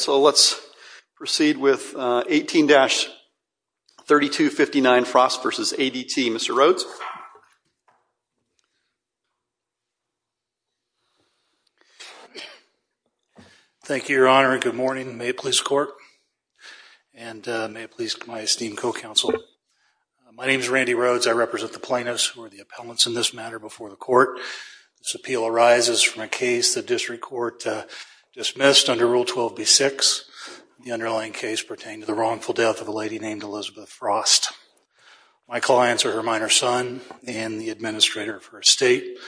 So let's proceed with 18-3259 Frost v. ADT. Mr. Rhoades. Thank you your honor and good morning. May it please the court and may it please my esteemed co-counsel. My name is Randy Rhoades. I represent the plaintiffs who are the appellants in this matter before the court. This appeal arises from a case the district court dismissed under Rule 12-B-6. The underlying case pertained to the wrongful death of a lady named Elizabeth Frost. My clients are her minor son and the administrator of her estate.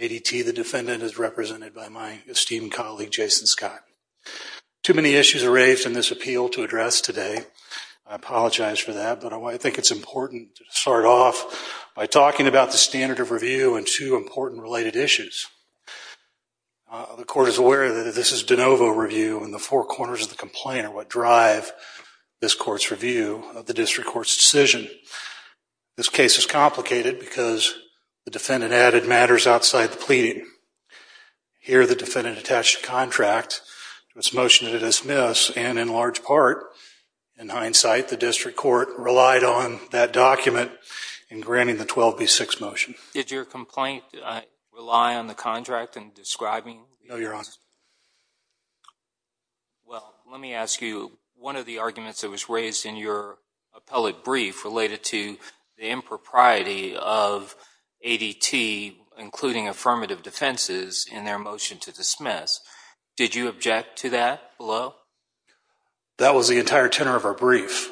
ADT the defendant is represented by my esteemed colleague Jason Scott. Too many issues are raised in this appeal to address today. I apologize for that but I think it's important to start off by talking about the standard of review and two important related issues. The court is aware that this is de novo review and the four corners of the complaint are what drive this court's review of the district court's decision. This case is complicated because the defendant added matters outside the pleading. Here the defendant attached a contract to its motion to dismiss and in large part in hindsight the district court relied on that document in granting the 12-B-6 motion. Did your complaint rely on the contract in describing? No, your honor. Well, let me ask you, one of the arguments that was raised in your appellate brief related to the impropriety of ADT including affirmative defenses in their motion to dismiss, did you object to that below? That was the entire tenor of our brief,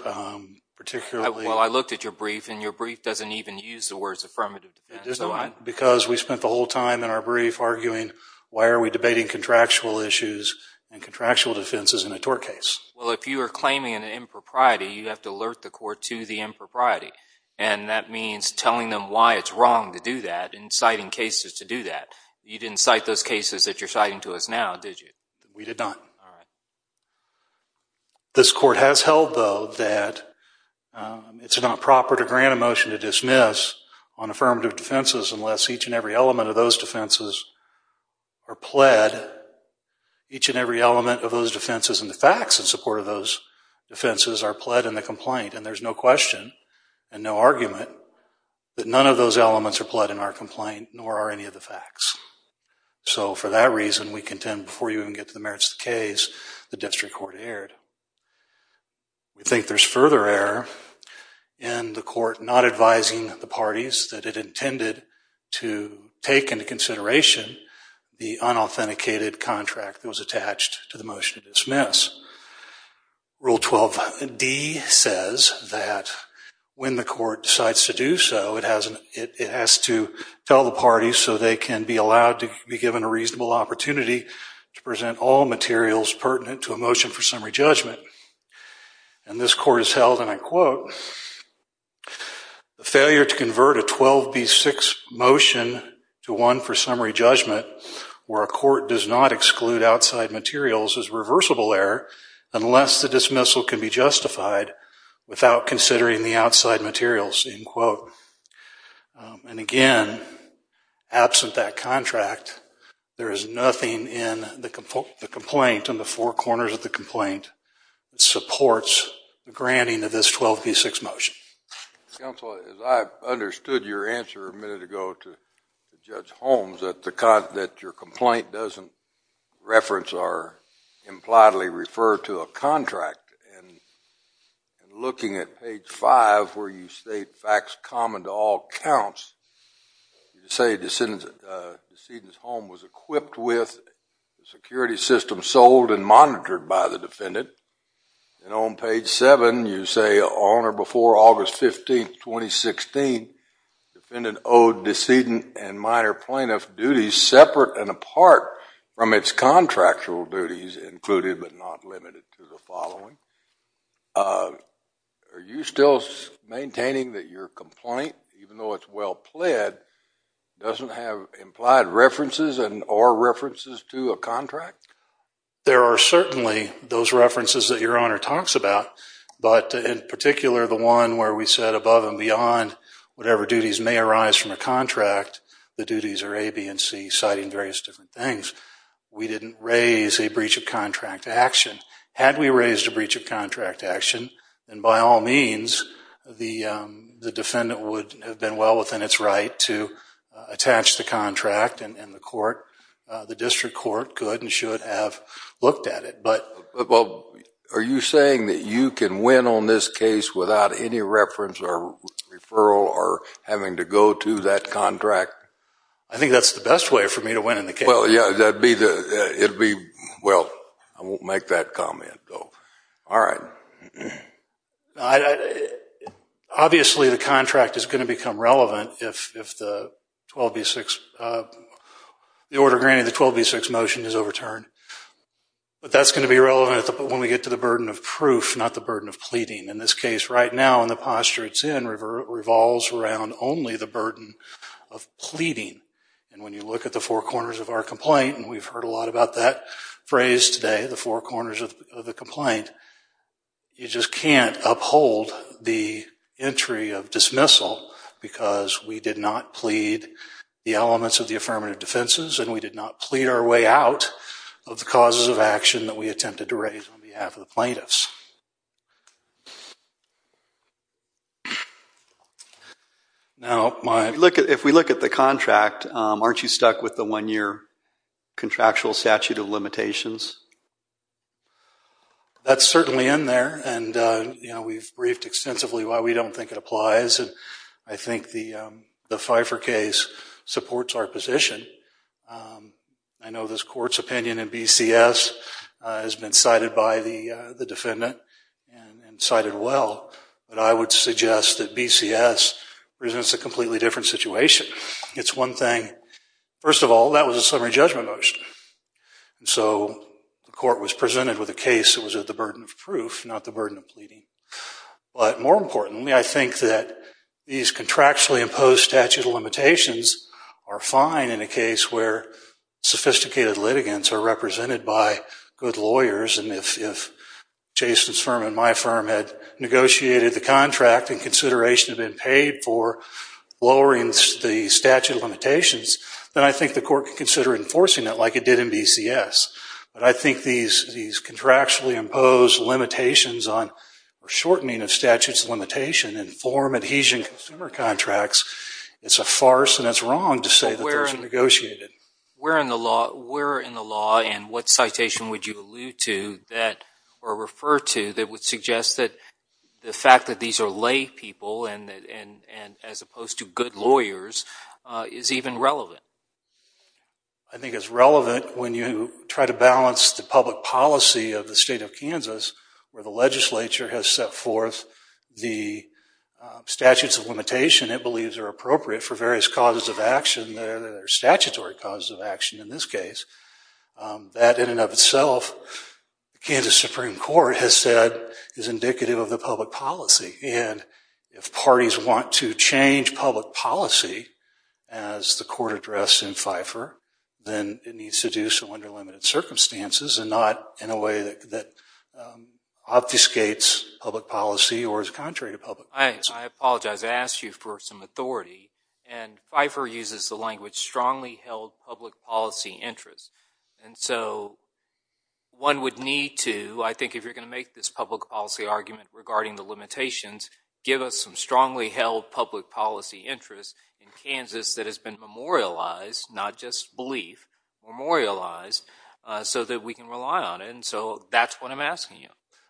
particularly. Well, I looked at your brief and your brief doesn't even use the words affirmative defense. Because we spent the whole time in our brief arguing why are we debating contractual issues and contractual defenses in a tort case. Well, if you are claiming an impropriety, you have to alert the court to the impropriety and that means telling them why it's wrong to do that and citing cases to do that. You didn't cite those cases that you're citing to us now, did you? We did not. All right. This court has held, though, that it's not proper to grant a motion to dismiss on affirmative defenses unless each and every element of those defenses are pled. Each and every element of those defenses and the facts in support of those defenses are pled in the complaint and there's no question and no argument that none of those elements So, for that reason, we contend before you even get to the merits of the case, the district court erred. We think there's further error in the court not advising the parties that it intended to take into consideration the unauthenticated contract that was attached to the motion to dismiss. Rule 12D says that when the court decides to do so, it has to tell the parties so they can be allowed to be given a reasonable opportunity to present all materials pertinent to a motion for summary judgment. And this court has held, and I quote, a failure to convert a 12B6 motion to one for summary judgment where a court does not exclude outside materials is reversible error unless the dismissal can be justified without considering the outside materials, end quote. And again, absent that contract, there is nothing in the complaint, in the four corners of the complaint, that supports the granting of this 12B6 motion. Counsel, as I understood your answer a minute ago to Judge Holmes, that your complaint doesn't reference or impliedly refer to a contract, and looking at page 5 where you state facts common to all counts, you say the decedent's home was equipped with a security system sold and monitored by the defendant. And on page 7, you say on or before August 15, 2016, the defendant owed decedent and minor plaintiff duties separate and apart from its contractual duties included but not limited to the following. Are you still maintaining that your complaint, even though it's well pled, doesn't have implied references and or references to a contract? There are certainly those references that your Honor talks about, but in particular the one where we said above and beyond whatever duties may arise from a contract, the duties are A, B, and C, citing various different things. We didn't raise a breach of contract action. Had we raised a breach of contract action, then by all means, the defendant would have been well within its right to attach the contract, and the court, the district court, could and should have looked at it. Are you saying that you can win on this case without any reference or referral or having to go to that contract? I think that's the best way for me to win in the case. Well, yeah, that'd be the, it'd be, well, I won't make that comment, though. All right. Obviously, the contract is going to become relevant if the 12B6, the order granting the 12B6 motion is overturned, but that's going to be relevant when we get to the burden of proof, not the burden of pleading. In this case, right now, in the posture it's in, revolves around only the burden of pleading, and when you look at the four corners of our complaint, and we've heard a lot about that phrase today, the four corners of the complaint, you just can't uphold the entry of dismissal because we did not plead the elements of the affirmative defenses, and we did not plead our way out of the causes of action that we attempted to raise on behalf of the plaintiffs. Now, my... If we look at the contract, aren't you stuck with the one-year contractual statute of limitations? That's certainly in there, and, you know, we've briefed extensively why we don't think it applies, and I think the Pfeiffer case supports our position. I know this court's opinion in BCS has been cited by the defendant, and cited well, but I would suggest that BCS presents a completely different situation. It's one thing, first of all, that was a summary judgment motion, so the court was presented with a case that was at the burden of proof, not the burden of pleading. But more importantly, I think that these contractually imposed statute of limitations are fine in a case where sophisticated litigants are represented by good lawyers, and if Jason's firm and my firm had negotiated the contract in consideration of being paid for lowering the statute of limitations, then I think the court could consider enforcing it like it did in BCS. But I think these contractually imposed limitations on shortening of statute of limitations inform adhesion in consumer contracts. It's a farce, and it's wrong to say that those are negotiated. Where in the law, and what citation would you allude to that, or refer to, that would suggest that the fact that these are lay people, as opposed to good lawyers, is even relevant? I think it's relevant when you try to balance the public policy of the state of Kansas, where the legislature has set forth the statutes of limitation it believes are appropriate for various causes of action that are statutory causes of action, in this case. That in and of itself, the Kansas Supreme Court has said is indicative of the public policy. And if parties want to change public policy, as the court addressed in FIFER, then it needs to do so under limited circumstances, and not in a way that obfuscates public policy, or is contrary to public policy. I apologize. I asked you for some authority. And FIFER uses the language strongly held public policy interests. And so one would need to, I think if you're going to make this public policy argument regarding the limitations, give us some strongly held public policy interests in Kansas that has been memorialized, not just belief, memorialized, so that we can rely on it. And so that's what I'm asking you.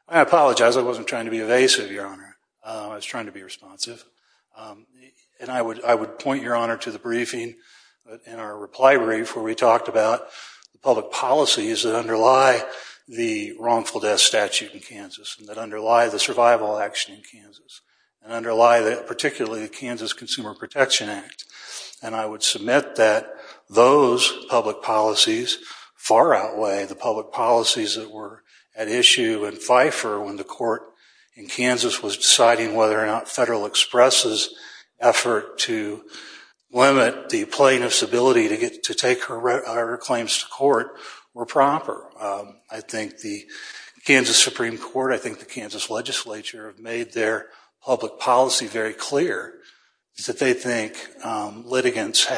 I apologize. I wasn't trying to be evasive, Your Honor. I was trying to be responsive. And I would point, Your Honor, to the briefing in our reply brief, where we talked about public policies that underlie the wrongful death statute in Kansas, that underlie the survival action in Kansas, and underlie, particularly, the Kansas Consumer Protection Act. And I would submit that those public policies far outweigh the public policies that were at issue in FIFER when the court in Kansas was deciding whether or not Federal Express's effort to limit the plaintiff's ability to take her claims to court were proper. I think the Kansas Supreme Court, I think the Kansas legislature, have made their public policy very clear, that they think litigants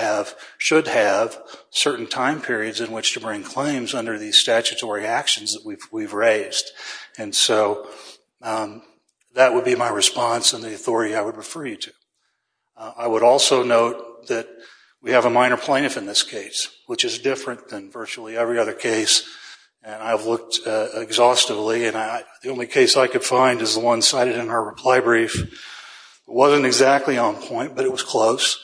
should have certain time periods in which to bring claims under these statutory actions that we've raised. And so that would be my response and the authority I would refer you to. I would also note that we have a minor plaintiff in this case, which is different than virtually every other case, and I've looked exhaustively, and the only case I could find is the one that was cited in our reply brief, wasn't exactly on point, but it was close,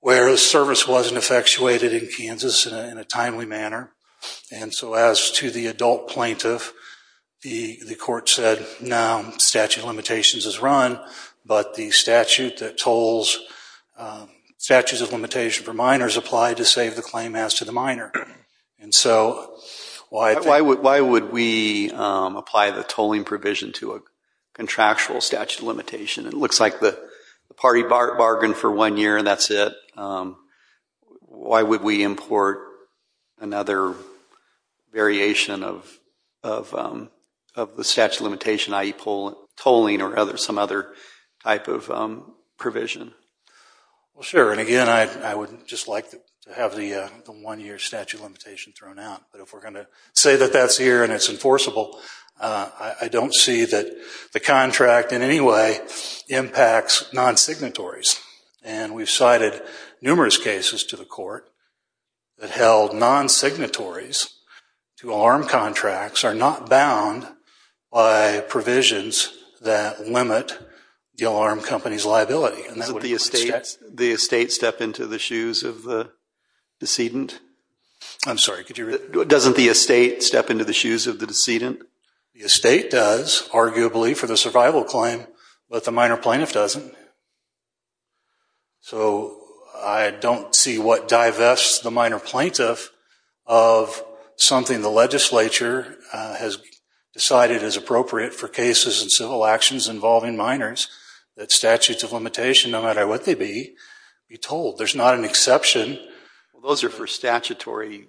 whereas service wasn't effectuated in Kansas in a timely manner. And so as to the adult plaintiff, the court said, no, statute of limitations is run, but the statute that tolls, statutes of limitation for minors apply to save the claim as to the minor. And so why would we apply the tolling provision to a contractual statute of limitation? It looks like the party bargained for one year and that's it. Why would we import another variation of the statute of limitation, i.e. tolling or some other type of provision? Well, sure, and again, I would just like to have the one-year statute of limitation thrown out. But if we're going to say that that's here and it's enforceable, I don't see that the contract in any way impacts non-signatories. And we've cited numerous cases to the court that held non-signatories to alarm contracts are not bound by provisions that limit the alarm company's liability, and that would be the case. Doesn't the estate step into the shoes of the decedent? I'm sorry, could you repeat that? Doesn't the estate step into the shoes of the decedent? The estate does, arguably, for the survival claim, but the minor plaintiff doesn't. So I don't see what divests the minor plaintiff of something the legislature has decided is By what they be, be told. There's not an exception. Those are for statutory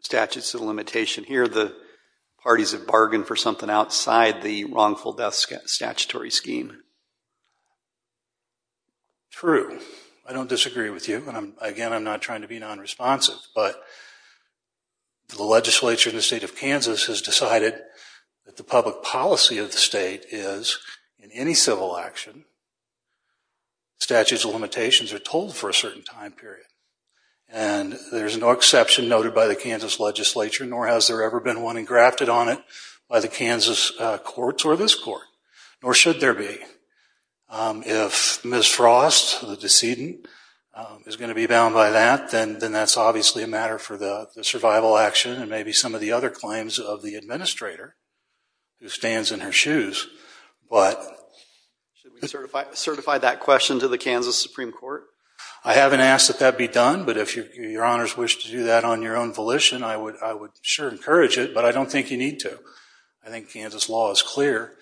statutes of limitation. Here the parties have bargained for something outside the wrongful death statutory scheme. True. I don't disagree with you, and again, I'm not trying to be non-responsive, but the legislature in the state of Kansas has decided that the public policy of the state is, in any civil action, statutes of limitations are told for a certain time period. And there's no exception noted by the Kansas legislature, nor has there ever been one engrafted on it by the Kansas courts or this court, nor should there be. If Ms. Frost, the decedent, is going to be bound by that, then that's obviously a matter for the survival action and maybe some of the other claims of the administrator, who stands in her shoes. Should we certify that question to the Kansas Supreme Court? I haven't asked that that be done, but if your honors wish to do that on your own volition, I would sure encourage it, but I don't think you need to. I think Kansas law is clear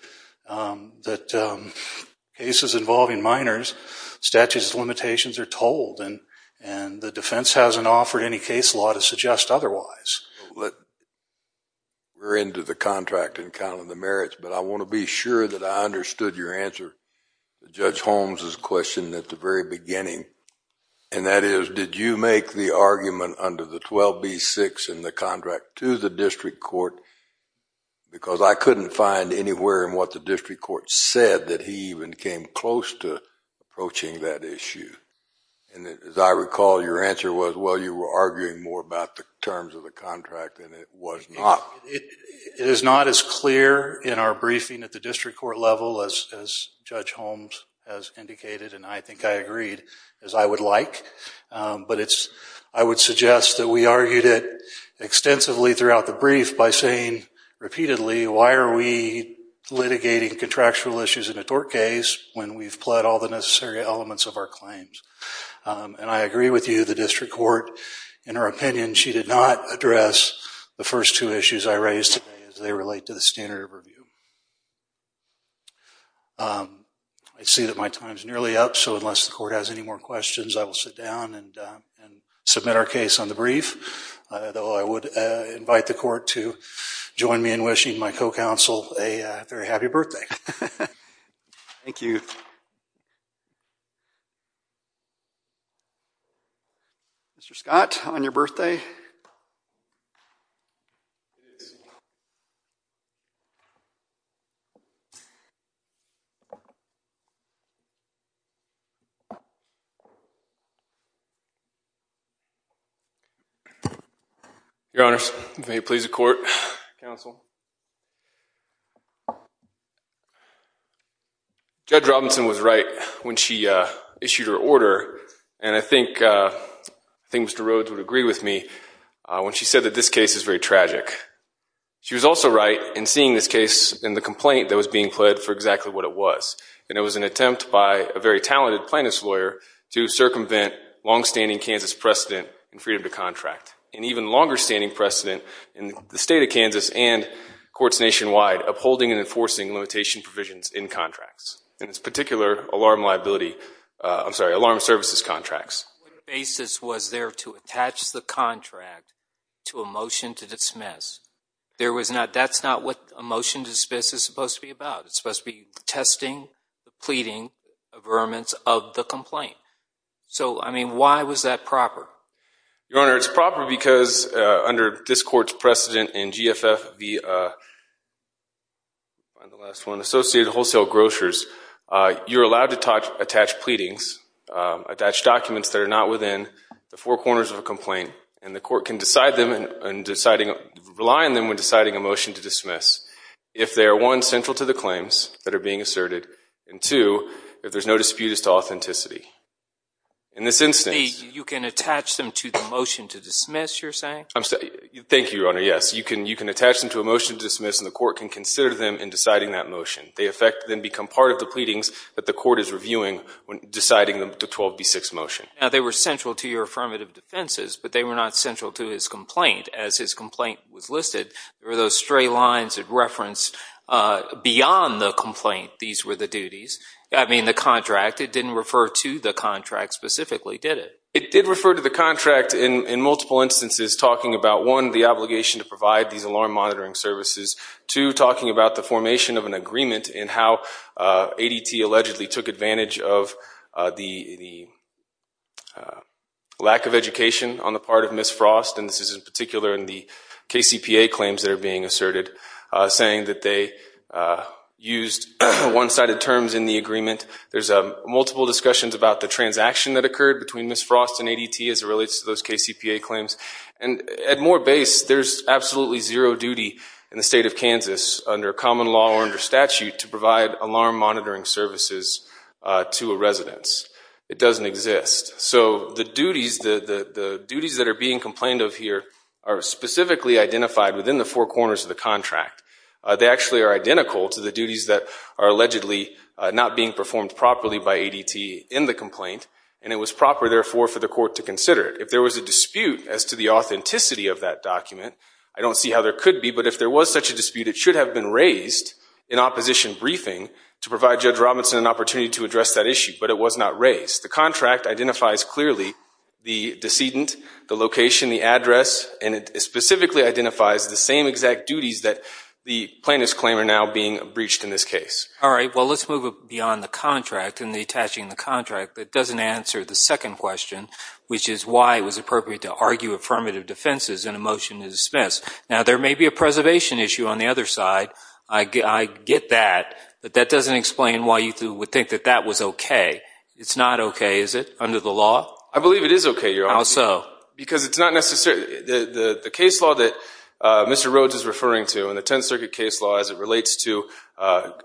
that cases involving minors, statutes of limitations are told. And the defense hasn't offered any case law to suggest otherwise. We're into the contract and kind of the merits, but I want to be sure that I understood your answer to Judge Holmes' question at the very beginning, and that is, did you make the argument under the 12B-6 in the contract to the district court? Because I couldn't find anywhere in what the district court said that he even came close to approaching that issue. And as I recall, your answer was, well, you were arguing more about the terms of the contract than it was not. It is not as clear in our briefing at the district court level as Judge Holmes has indicated, and I think I agreed, as I would like. But I would suggest that we argued it extensively throughout the brief by saying repeatedly, why are we litigating contractual issues in a tort case when we've pled all the necessary elements of our claims? And I agree with you, the district court, in her opinion, she did not address the first two issues I raised today as they relate to the standard of review. I see that my time is nearly up, so unless the court has any more questions, I will sit down and submit our case on the brief. Though I would invite the court to join me in wishing my co-counsel a very happy birthday. Thank you. Mr. Scott, on your birthday? Your honors, may it please the court, counsel. Judge Robinson was right when she issued her order, and I think Mr. Rhodes would agree with me when she said that this case is very tragic. She was also right in seeing this case in the complaint that was being pled for exactly what it was, and it was an attempt by a very talented plaintiff's lawyer to circumvent long-standing Kansas precedent in freedom to contract, and even longer-standing precedent in the state of Kansas and courts nationwide upholding and enforcing limitation provisions in contracts, in this particular alarm liability, I'm sorry, alarm services contracts. What basis was there to attach the contract to a motion to dismiss? That's not what a motion to dismiss is supposed to be about. It's supposed to be testing, pleading, averments of the complaint. So, I mean, why was that proper? Your honor, it's proper because under this court's precedent in GFF, the last one, Associated Wholesale Grocers, you're allowed to attach pleadings, attach documents that are not within the four corners of a complaint, and the court can decide them and rely on them when deciding a motion to dismiss if they are, one, central to the claims that are being asserted, and two, if there's no dispute, it's to authenticity. In this instance... You can attach them to the motion to dismiss, you're saying? Thank you, your honor, yes. You can attach them to a motion to dismiss and the court can consider them in deciding that motion. They then become part of the pleadings that the court is reviewing when deciding the 12B6 motion. Now, they were central to your affirmative defenses, but they were not central to his complaint. As his complaint was listed, there were those stray lines of reference beyond the complaint. These were the duties. I mean, the contract, it didn't refer to the contract specifically, did it? It did refer to the contract in multiple instances, talking about, one, the obligation to provide these alarm monitoring services, two, talking about the formation of an agreement and how ADT allegedly took advantage of the lack of education on the part of Ms. Frost, and this in the agreement. There's multiple discussions about the transaction that occurred between Ms. Frost and ADT as it relates to those KCPA claims. And at Moore Base, there's absolutely zero duty in the state of Kansas, under common law or under statute, to provide alarm monitoring services to a residence. It doesn't exist. So the duties that are being complained of here are specifically identified within the four corners of the contract. They actually are identical to the duties that are allegedly not being performed properly by ADT in the complaint, and it was proper, therefore, for the court to consider it. If there was a dispute as to the authenticity of that document, I don't see how there could be, but if there was such a dispute, it should have been raised in opposition briefing to provide Judge Robinson an opportunity to address that issue, but it was not raised. The contract identifies clearly the decedent, the location, the address, and it specifically identifies the same exact duties that the plaintiffs claim are now being breached in this case. All right. Well, let's move beyond the contract and detaching the contract that doesn't answer the second question, which is why it was appropriate to argue affirmative defenses in a motion to dismiss. Now, there may be a preservation issue on the other side. I get that, but that doesn't explain why you would think that that was okay. It's not okay, is it, under the law? I believe it is okay, Your Honor. How so? Because it's not necessarily—the case law that Mr. Rhodes is referring to in the Tenth Circuit case law as it relates to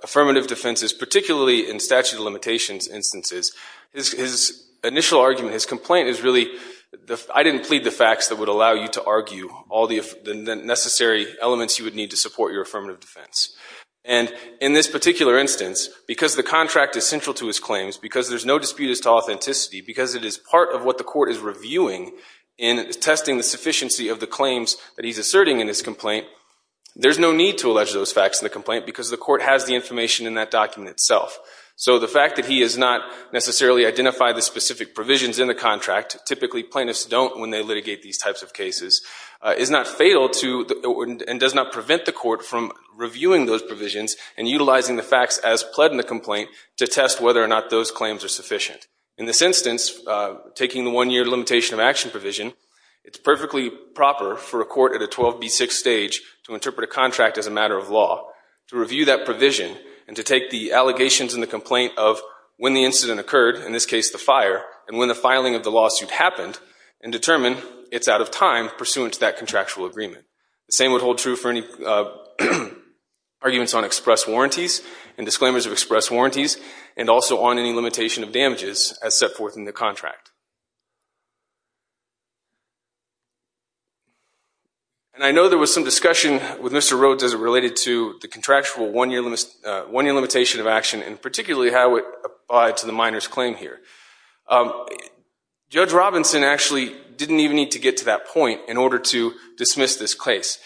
affirmative defenses, particularly in statute of limitations instances, his initial argument, his complaint is really, I didn't plead the facts that would allow you to argue all the necessary elements you would need to support your affirmative defense. And in this particular instance, because the contract is central to his claims, because there's no dispute as to authenticity, because it is part of what the court is reviewing in testing the sufficiency of the claims that he's asserting in his complaint, there's no need to allege those facts in the complaint because the court has the information in that document itself. So the fact that he has not necessarily identified the specific provisions in the contract, typically plaintiffs don't when they litigate these types of cases, is not fatal to—and does not prevent the court from reviewing those provisions and utilizing the facts as pled in the complaint to test whether or not those claims are sufficient. In this instance, taking the one-year limitation of action provision, it's perfectly proper for a court at a 12B6 stage to interpret a contract as a matter of law, to review that provision and to take the allegations in the complaint of when the incident occurred, in this case the fire, and when the filing of the lawsuit happened, and determine it's out of time pursuant to that contractual agreement. The same would hold true for any arguments on express warranties and disclaimers of express warranties and also on any limitation of damages as set forth in the contract. And I know there was some discussion with Mr. Rhodes as it related to the contractual one-year limitation of action and particularly how it applied to the minor's claim here. Judge Robinson actually didn't even need to get to that point in order to dismiss this case.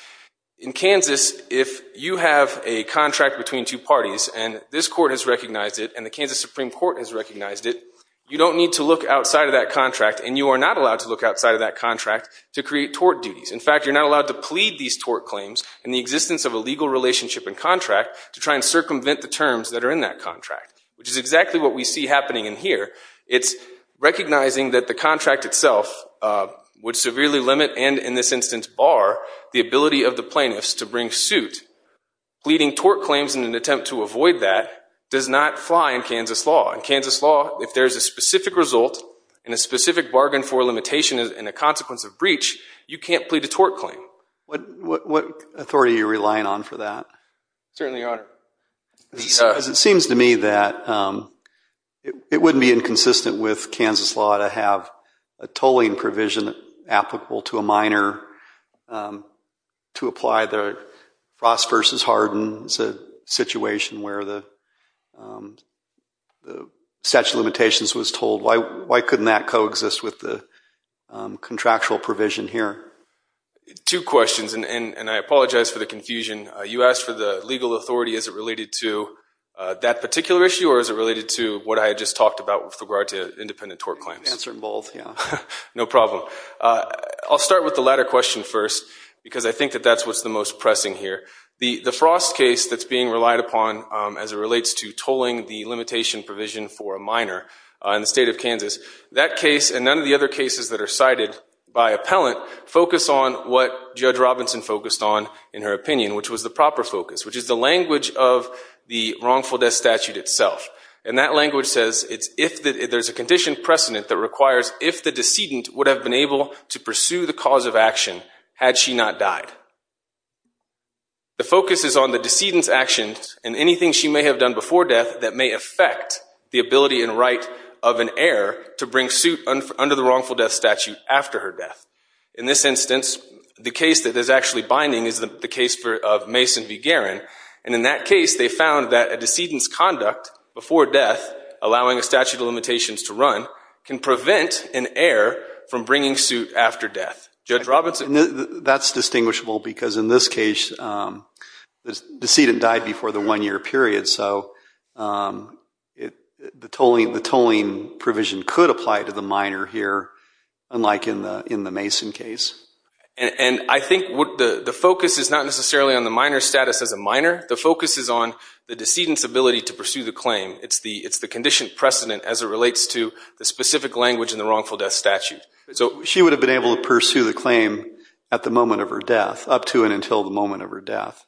In Kansas, if you have a contract between two parties and this court has recognized it and the Kansas Supreme Court has recognized it, you don't need to look outside of that contract and you are not allowed to look outside of that contract to create tort duties. In fact, you're not allowed to plead these tort claims in the existence of a legal relationship and contract to try and circumvent the terms that are in that contract, which is exactly what we see happening in here. It's recognizing that the contract itself would severely limit and in this instance bar the ability of the plaintiffs to bring suit. Pleading tort claims in an attempt to avoid that does not fly in Kansas law. In Kansas law, if there's a specific result and a specific bargain for a limitation and a consequence of breach, you can't plead a tort claim. Certainly, Your Honor. It seems to me that it wouldn't be inconsistent with Kansas law to have a tolling provision applicable to a minor to apply the Ross v. Harden situation where the statute of limitations was told. Why couldn't that coexist with the contractual provision here? Two questions and I apologize for the confusion. You asked for the legal authority. Is it related to that particular issue or is it related to what I had just talked about with regard to independent tort claims? Answer in bold, yeah. No problem. I'll start with the latter question first because I think that that's what's the most pressing here. The Frost case that's being relied upon as it relates to tolling the limitation provision for a minor in the state of Kansas, that case and none of the other cases that are cited by appellant focus on what Judge Robinson focused on in her opinion, which was the proper focus, which is the language of the wrongful death statute itself. And that language says there's a condition precedent that requires if the decedent would have been able to pursue the cause of action had she not died. The focus is on the decedent's actions and anything she may have done before death that may affect the ability and right of an heir to bring suit under the wrongful death statute after her death. In this instance, the case that is actually binding is the case of Mason v. Guerin, and in that case they found that a decedent's conduct before death, allowing a statute of limitations to run, can prevent an heir from bringing suit after death. Judge Robinson? That's distinguishable because in this case the decedent died before the one-year period, so the tolling provision could apply to the minor here, unlike in the Mason case. And I think the focus is not necessarily on the minor's status as a minor. The focus is on the decedent's ability to pursue the claim. It's the condition precedent as it relates to the specific language in the wrongful death statute. She would have been able to pursue the claim at the moment of her death, up to and until the moment of her death.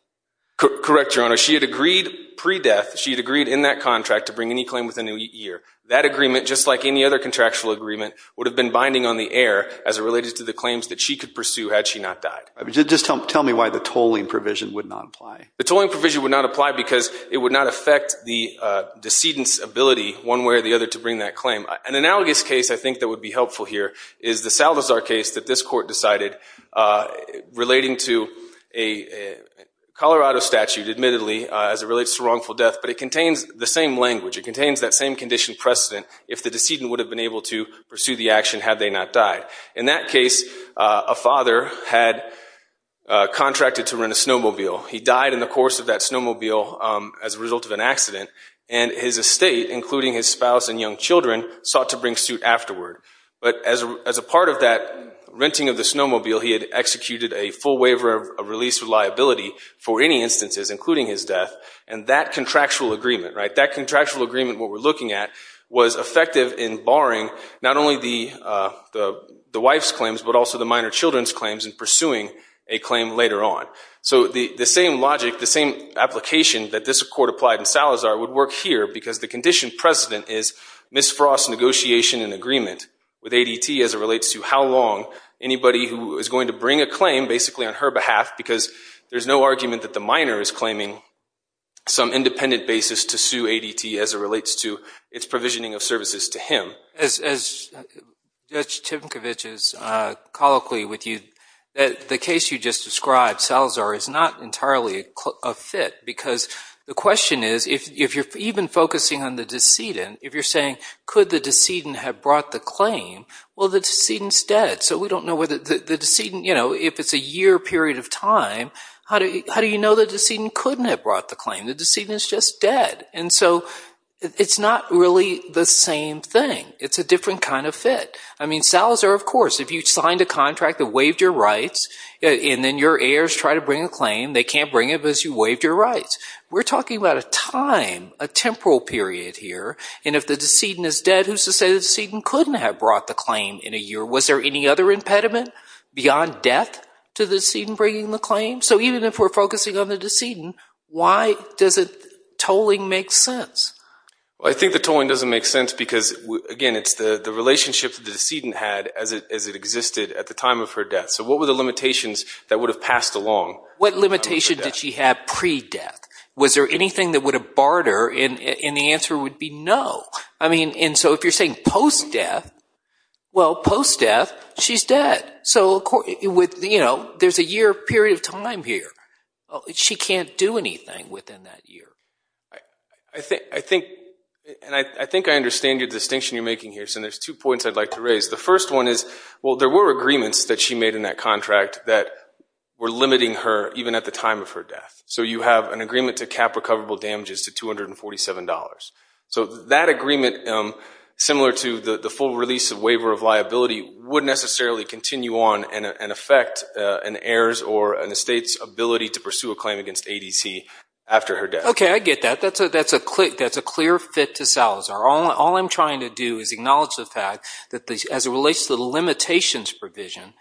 Correct, Your Honor. She had agreed, pre-death, she had agreed in that contract to bring any claim within a year. That agreement, just like any other contractual agreement, would have been binding on the heir as it related to the claims that she could pursue had she not died. Just tell me why the tolling provision would not apply. The tolling provision would not apply because it would not affect the decedent's ability, one way or the other, to bring that claim. An analogous case, I think, that would be helpful here is the Salazar case that this relates to wrongful death, but it contains the same language, it contains that same condition precedent if the decedent would have been able to pursue the action had they not died. In that case, a father had contracted to rent a snowmobile. He died in the course of that snowmobile as a result of an accident, and his estate, including his spouse and young children, sought to bring suit afterward. But as a part of that renting of the snowmobile, he had executed a full waiver of release with death, and that contractual agreement, what we're looking at, was effective in barring not only the wife's claims, but also the minor children's claims in pursuing a claim later on. So the same logic, the same application that this court applied in Salazar would work here because the condition precedent is Ms. Frost's negotiation and agreement with ADT as it relates to how long anybody who is going to bring a claim, basically on her behalf because there's no argument that the minor is claiming some independent basis to sue ADT as it relates to its provisioning of services to him. As Judge Timkovich is colloquially with you, the case you just described, Salazar, is not entirely a fit because the question is, if you're even focusing on the decedent, if you're saying could the decedent have brought the claim, well, the decedent's dead, so we don't How do you know the decedent couldn't have brought the claim? The decedent's just dead. And so it's not really the same thing. It's a different kind of fit. I mean, Salazar, of course, if you signed a contract that waived your rights and then your heirs try to bring a claim, they can't bring it because you waived your rights. We're talking about a time, a temporal period here, and if the decedent is dead, who's to say the decedent couldn't have brought the claim in a year? Was there any other impediment beyond death to the decedent bringing the claim? So even if we're focusing on the decedent, why doesn't tolling make sense? I think the tolling doesn't make sense because, again, it's the relationship that the decedent had as it existed at the time of her death. So what were the limitations that would have passed along? What limitation did she have pre-death? Was there anything that would have barred her, and the answer would be no. And so if you're saying post-death, well, post-death, she's dead. So there's a year period of time here. She can't do anything within that year. I think I understand your distinction you're making here, so there's two points I'd like to raise. The first one is, well, there were agreements that she made in that contract that were limiting her even at the time of her death. So you have an agreement to cap recoverable damages to $247. So that agreement, similar to the full release of waiver of liability, would necessarily continue on and affect an heir's or an estate's ability to pursue a claim against ADC after her death. Okay, I get that. That's a clear fit to Salazar. All I'm trying to do is acknowledge the fact that as it relates to the limitations provision,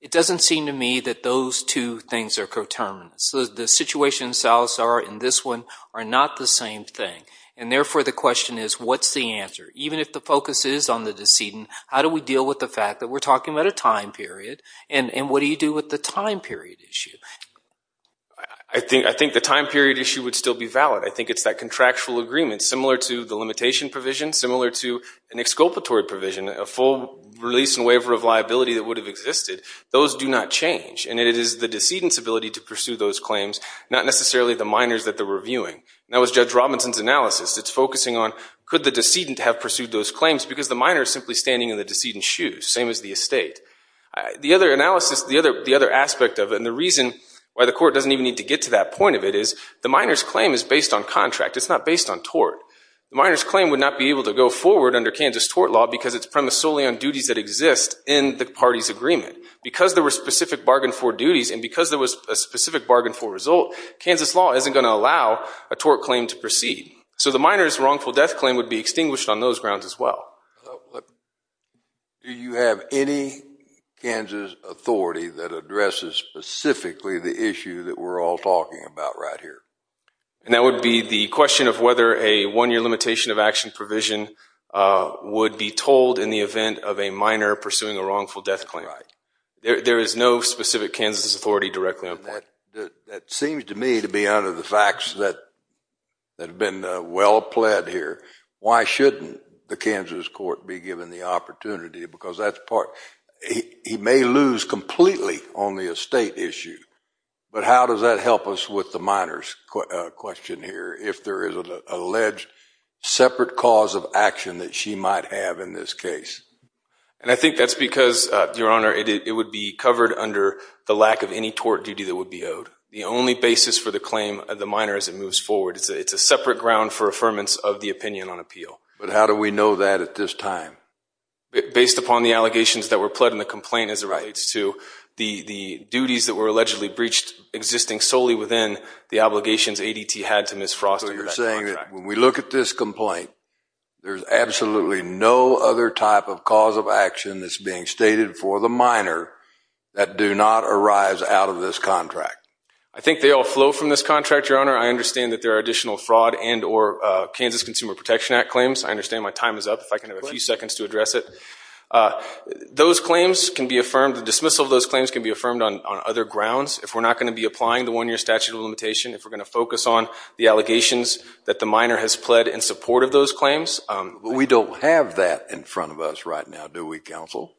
it doesn't seem to me that those two things are coterminous. The situation in Salazar and this one are not the same thing. And therefore, the question is, what's the answer? Even if the focus is on the decedent, how do we deal with the fact that we're talking about a time period, and what do you do with the time period issue? I think the time period issue would still be valid. I think it's that contractual agreement, similar to the limitation provision, similar to an exculpatory provision, a full release and waiver of liability that would have existed. Those do not change. And it is the decedent's ability to pursue those claims, not necessarily the minors that they're reviewing. That was Judge Robinson's analysis. It's focusing on, could the decedent have pursued those claims? Because the minor is simply standing in the decedent's shoes. Same as the estate. The other analysis, the other aspect of it, and the reason why the court doesn't even need to get to that point of it, is the minor's claim is based on contract. It's not based on tort. The minor's claim would not be able to go forward under Kansas tort law because it's premised solely on duties that exist in the party's agreement. Because there were specific bargain for duties, and because there was a specific bargain for result, Kansas law isn't going to allow a tort claim to proceed. So the minor's wrongful death claim would be extinguished on those grounds as well. Do you have any Kansas authority that addresses specifically the issue that we're all talking about right here? And that would be the question of whether a one-year limitation of action provision would be told in the event of a minor pursuing a wrongful death claim. There is no specific Kansas authority directly on that. That seems to me to be under the facts that have been well-pled here. Why shouldn't the Kansas court be given the opportunity? Because he may lose completely on the estate issue. But how does that help us with the minor's question here, if there is an alleged separate cause of action that she might have in this case? And I think that's because, Your Honor, it would be covered under the lack of any tort duty that would be owed. The only basis for the claim of the minor as it moves forward, it's a separate ground for affirmance of the opinion on appeal. But how do we know that at this time? Based upon the allegations that were pled in the complaint as it relates to the duties that were allegedly breached existing solely within the obligations ADT had to Ms. Frost under that contract. So you're saying that when we look at this complaint, there's absolutely no other type of cause of action that's being stated for the minor that do not arise out of this contract? I think they all flow from this contract, Your Honor. I understand that there are additional fraud and or Kansas Consumer Protection Act claims. I understand my time is up. If I can have a few seconds to address it. Those claims can be affirmed, the dismissal of those claims can be affirmed on other grounds. If we're not going to be applying the one-year statute of limitation, if we're going to focus on the allegations that the minor has pled in support of those claims. We don't have that in front of us right now, do we, counsel?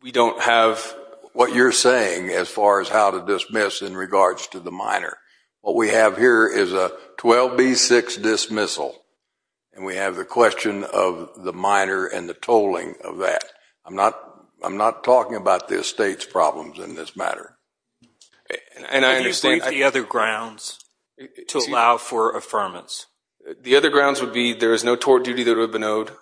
We don't have. What you're saying as far as how to dismiss in regards to the minor. What we have here is a 12B6 dismissal and we have the question of the minor and the tolling of that. I'm not talking about the estate's problems in this matter. And I understand. Can you state the other grounds to allow for affirmance? The other grounds would be there is no tort duty that would have been owed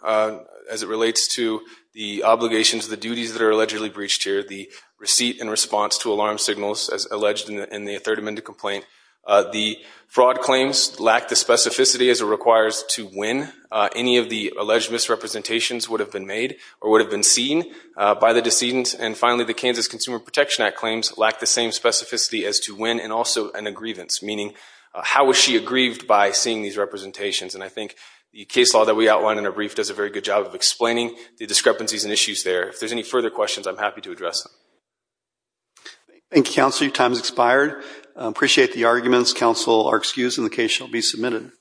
as it relates to the obligations, the duties that are allegedly breached here, the receipt in response to The fraud claims lack the specificity as it requires to win. Any of the alleged misrepresentations would have been made or would have been seen by the decedent. And finally, the Kansas Consumer Protection Act claims lack the same specificity as to win and also an aggrievance, meaning how was she aggrieved by seeing these representations? And I think the case law that we outlined in our brief does a very good job of explaining the discrepancies and issues there. If there's any further questions, I'm happy to address them. Thank you, Counselor. Your time has expired. I appreciate the arguments. Counsel are excused and the case shall be submitted.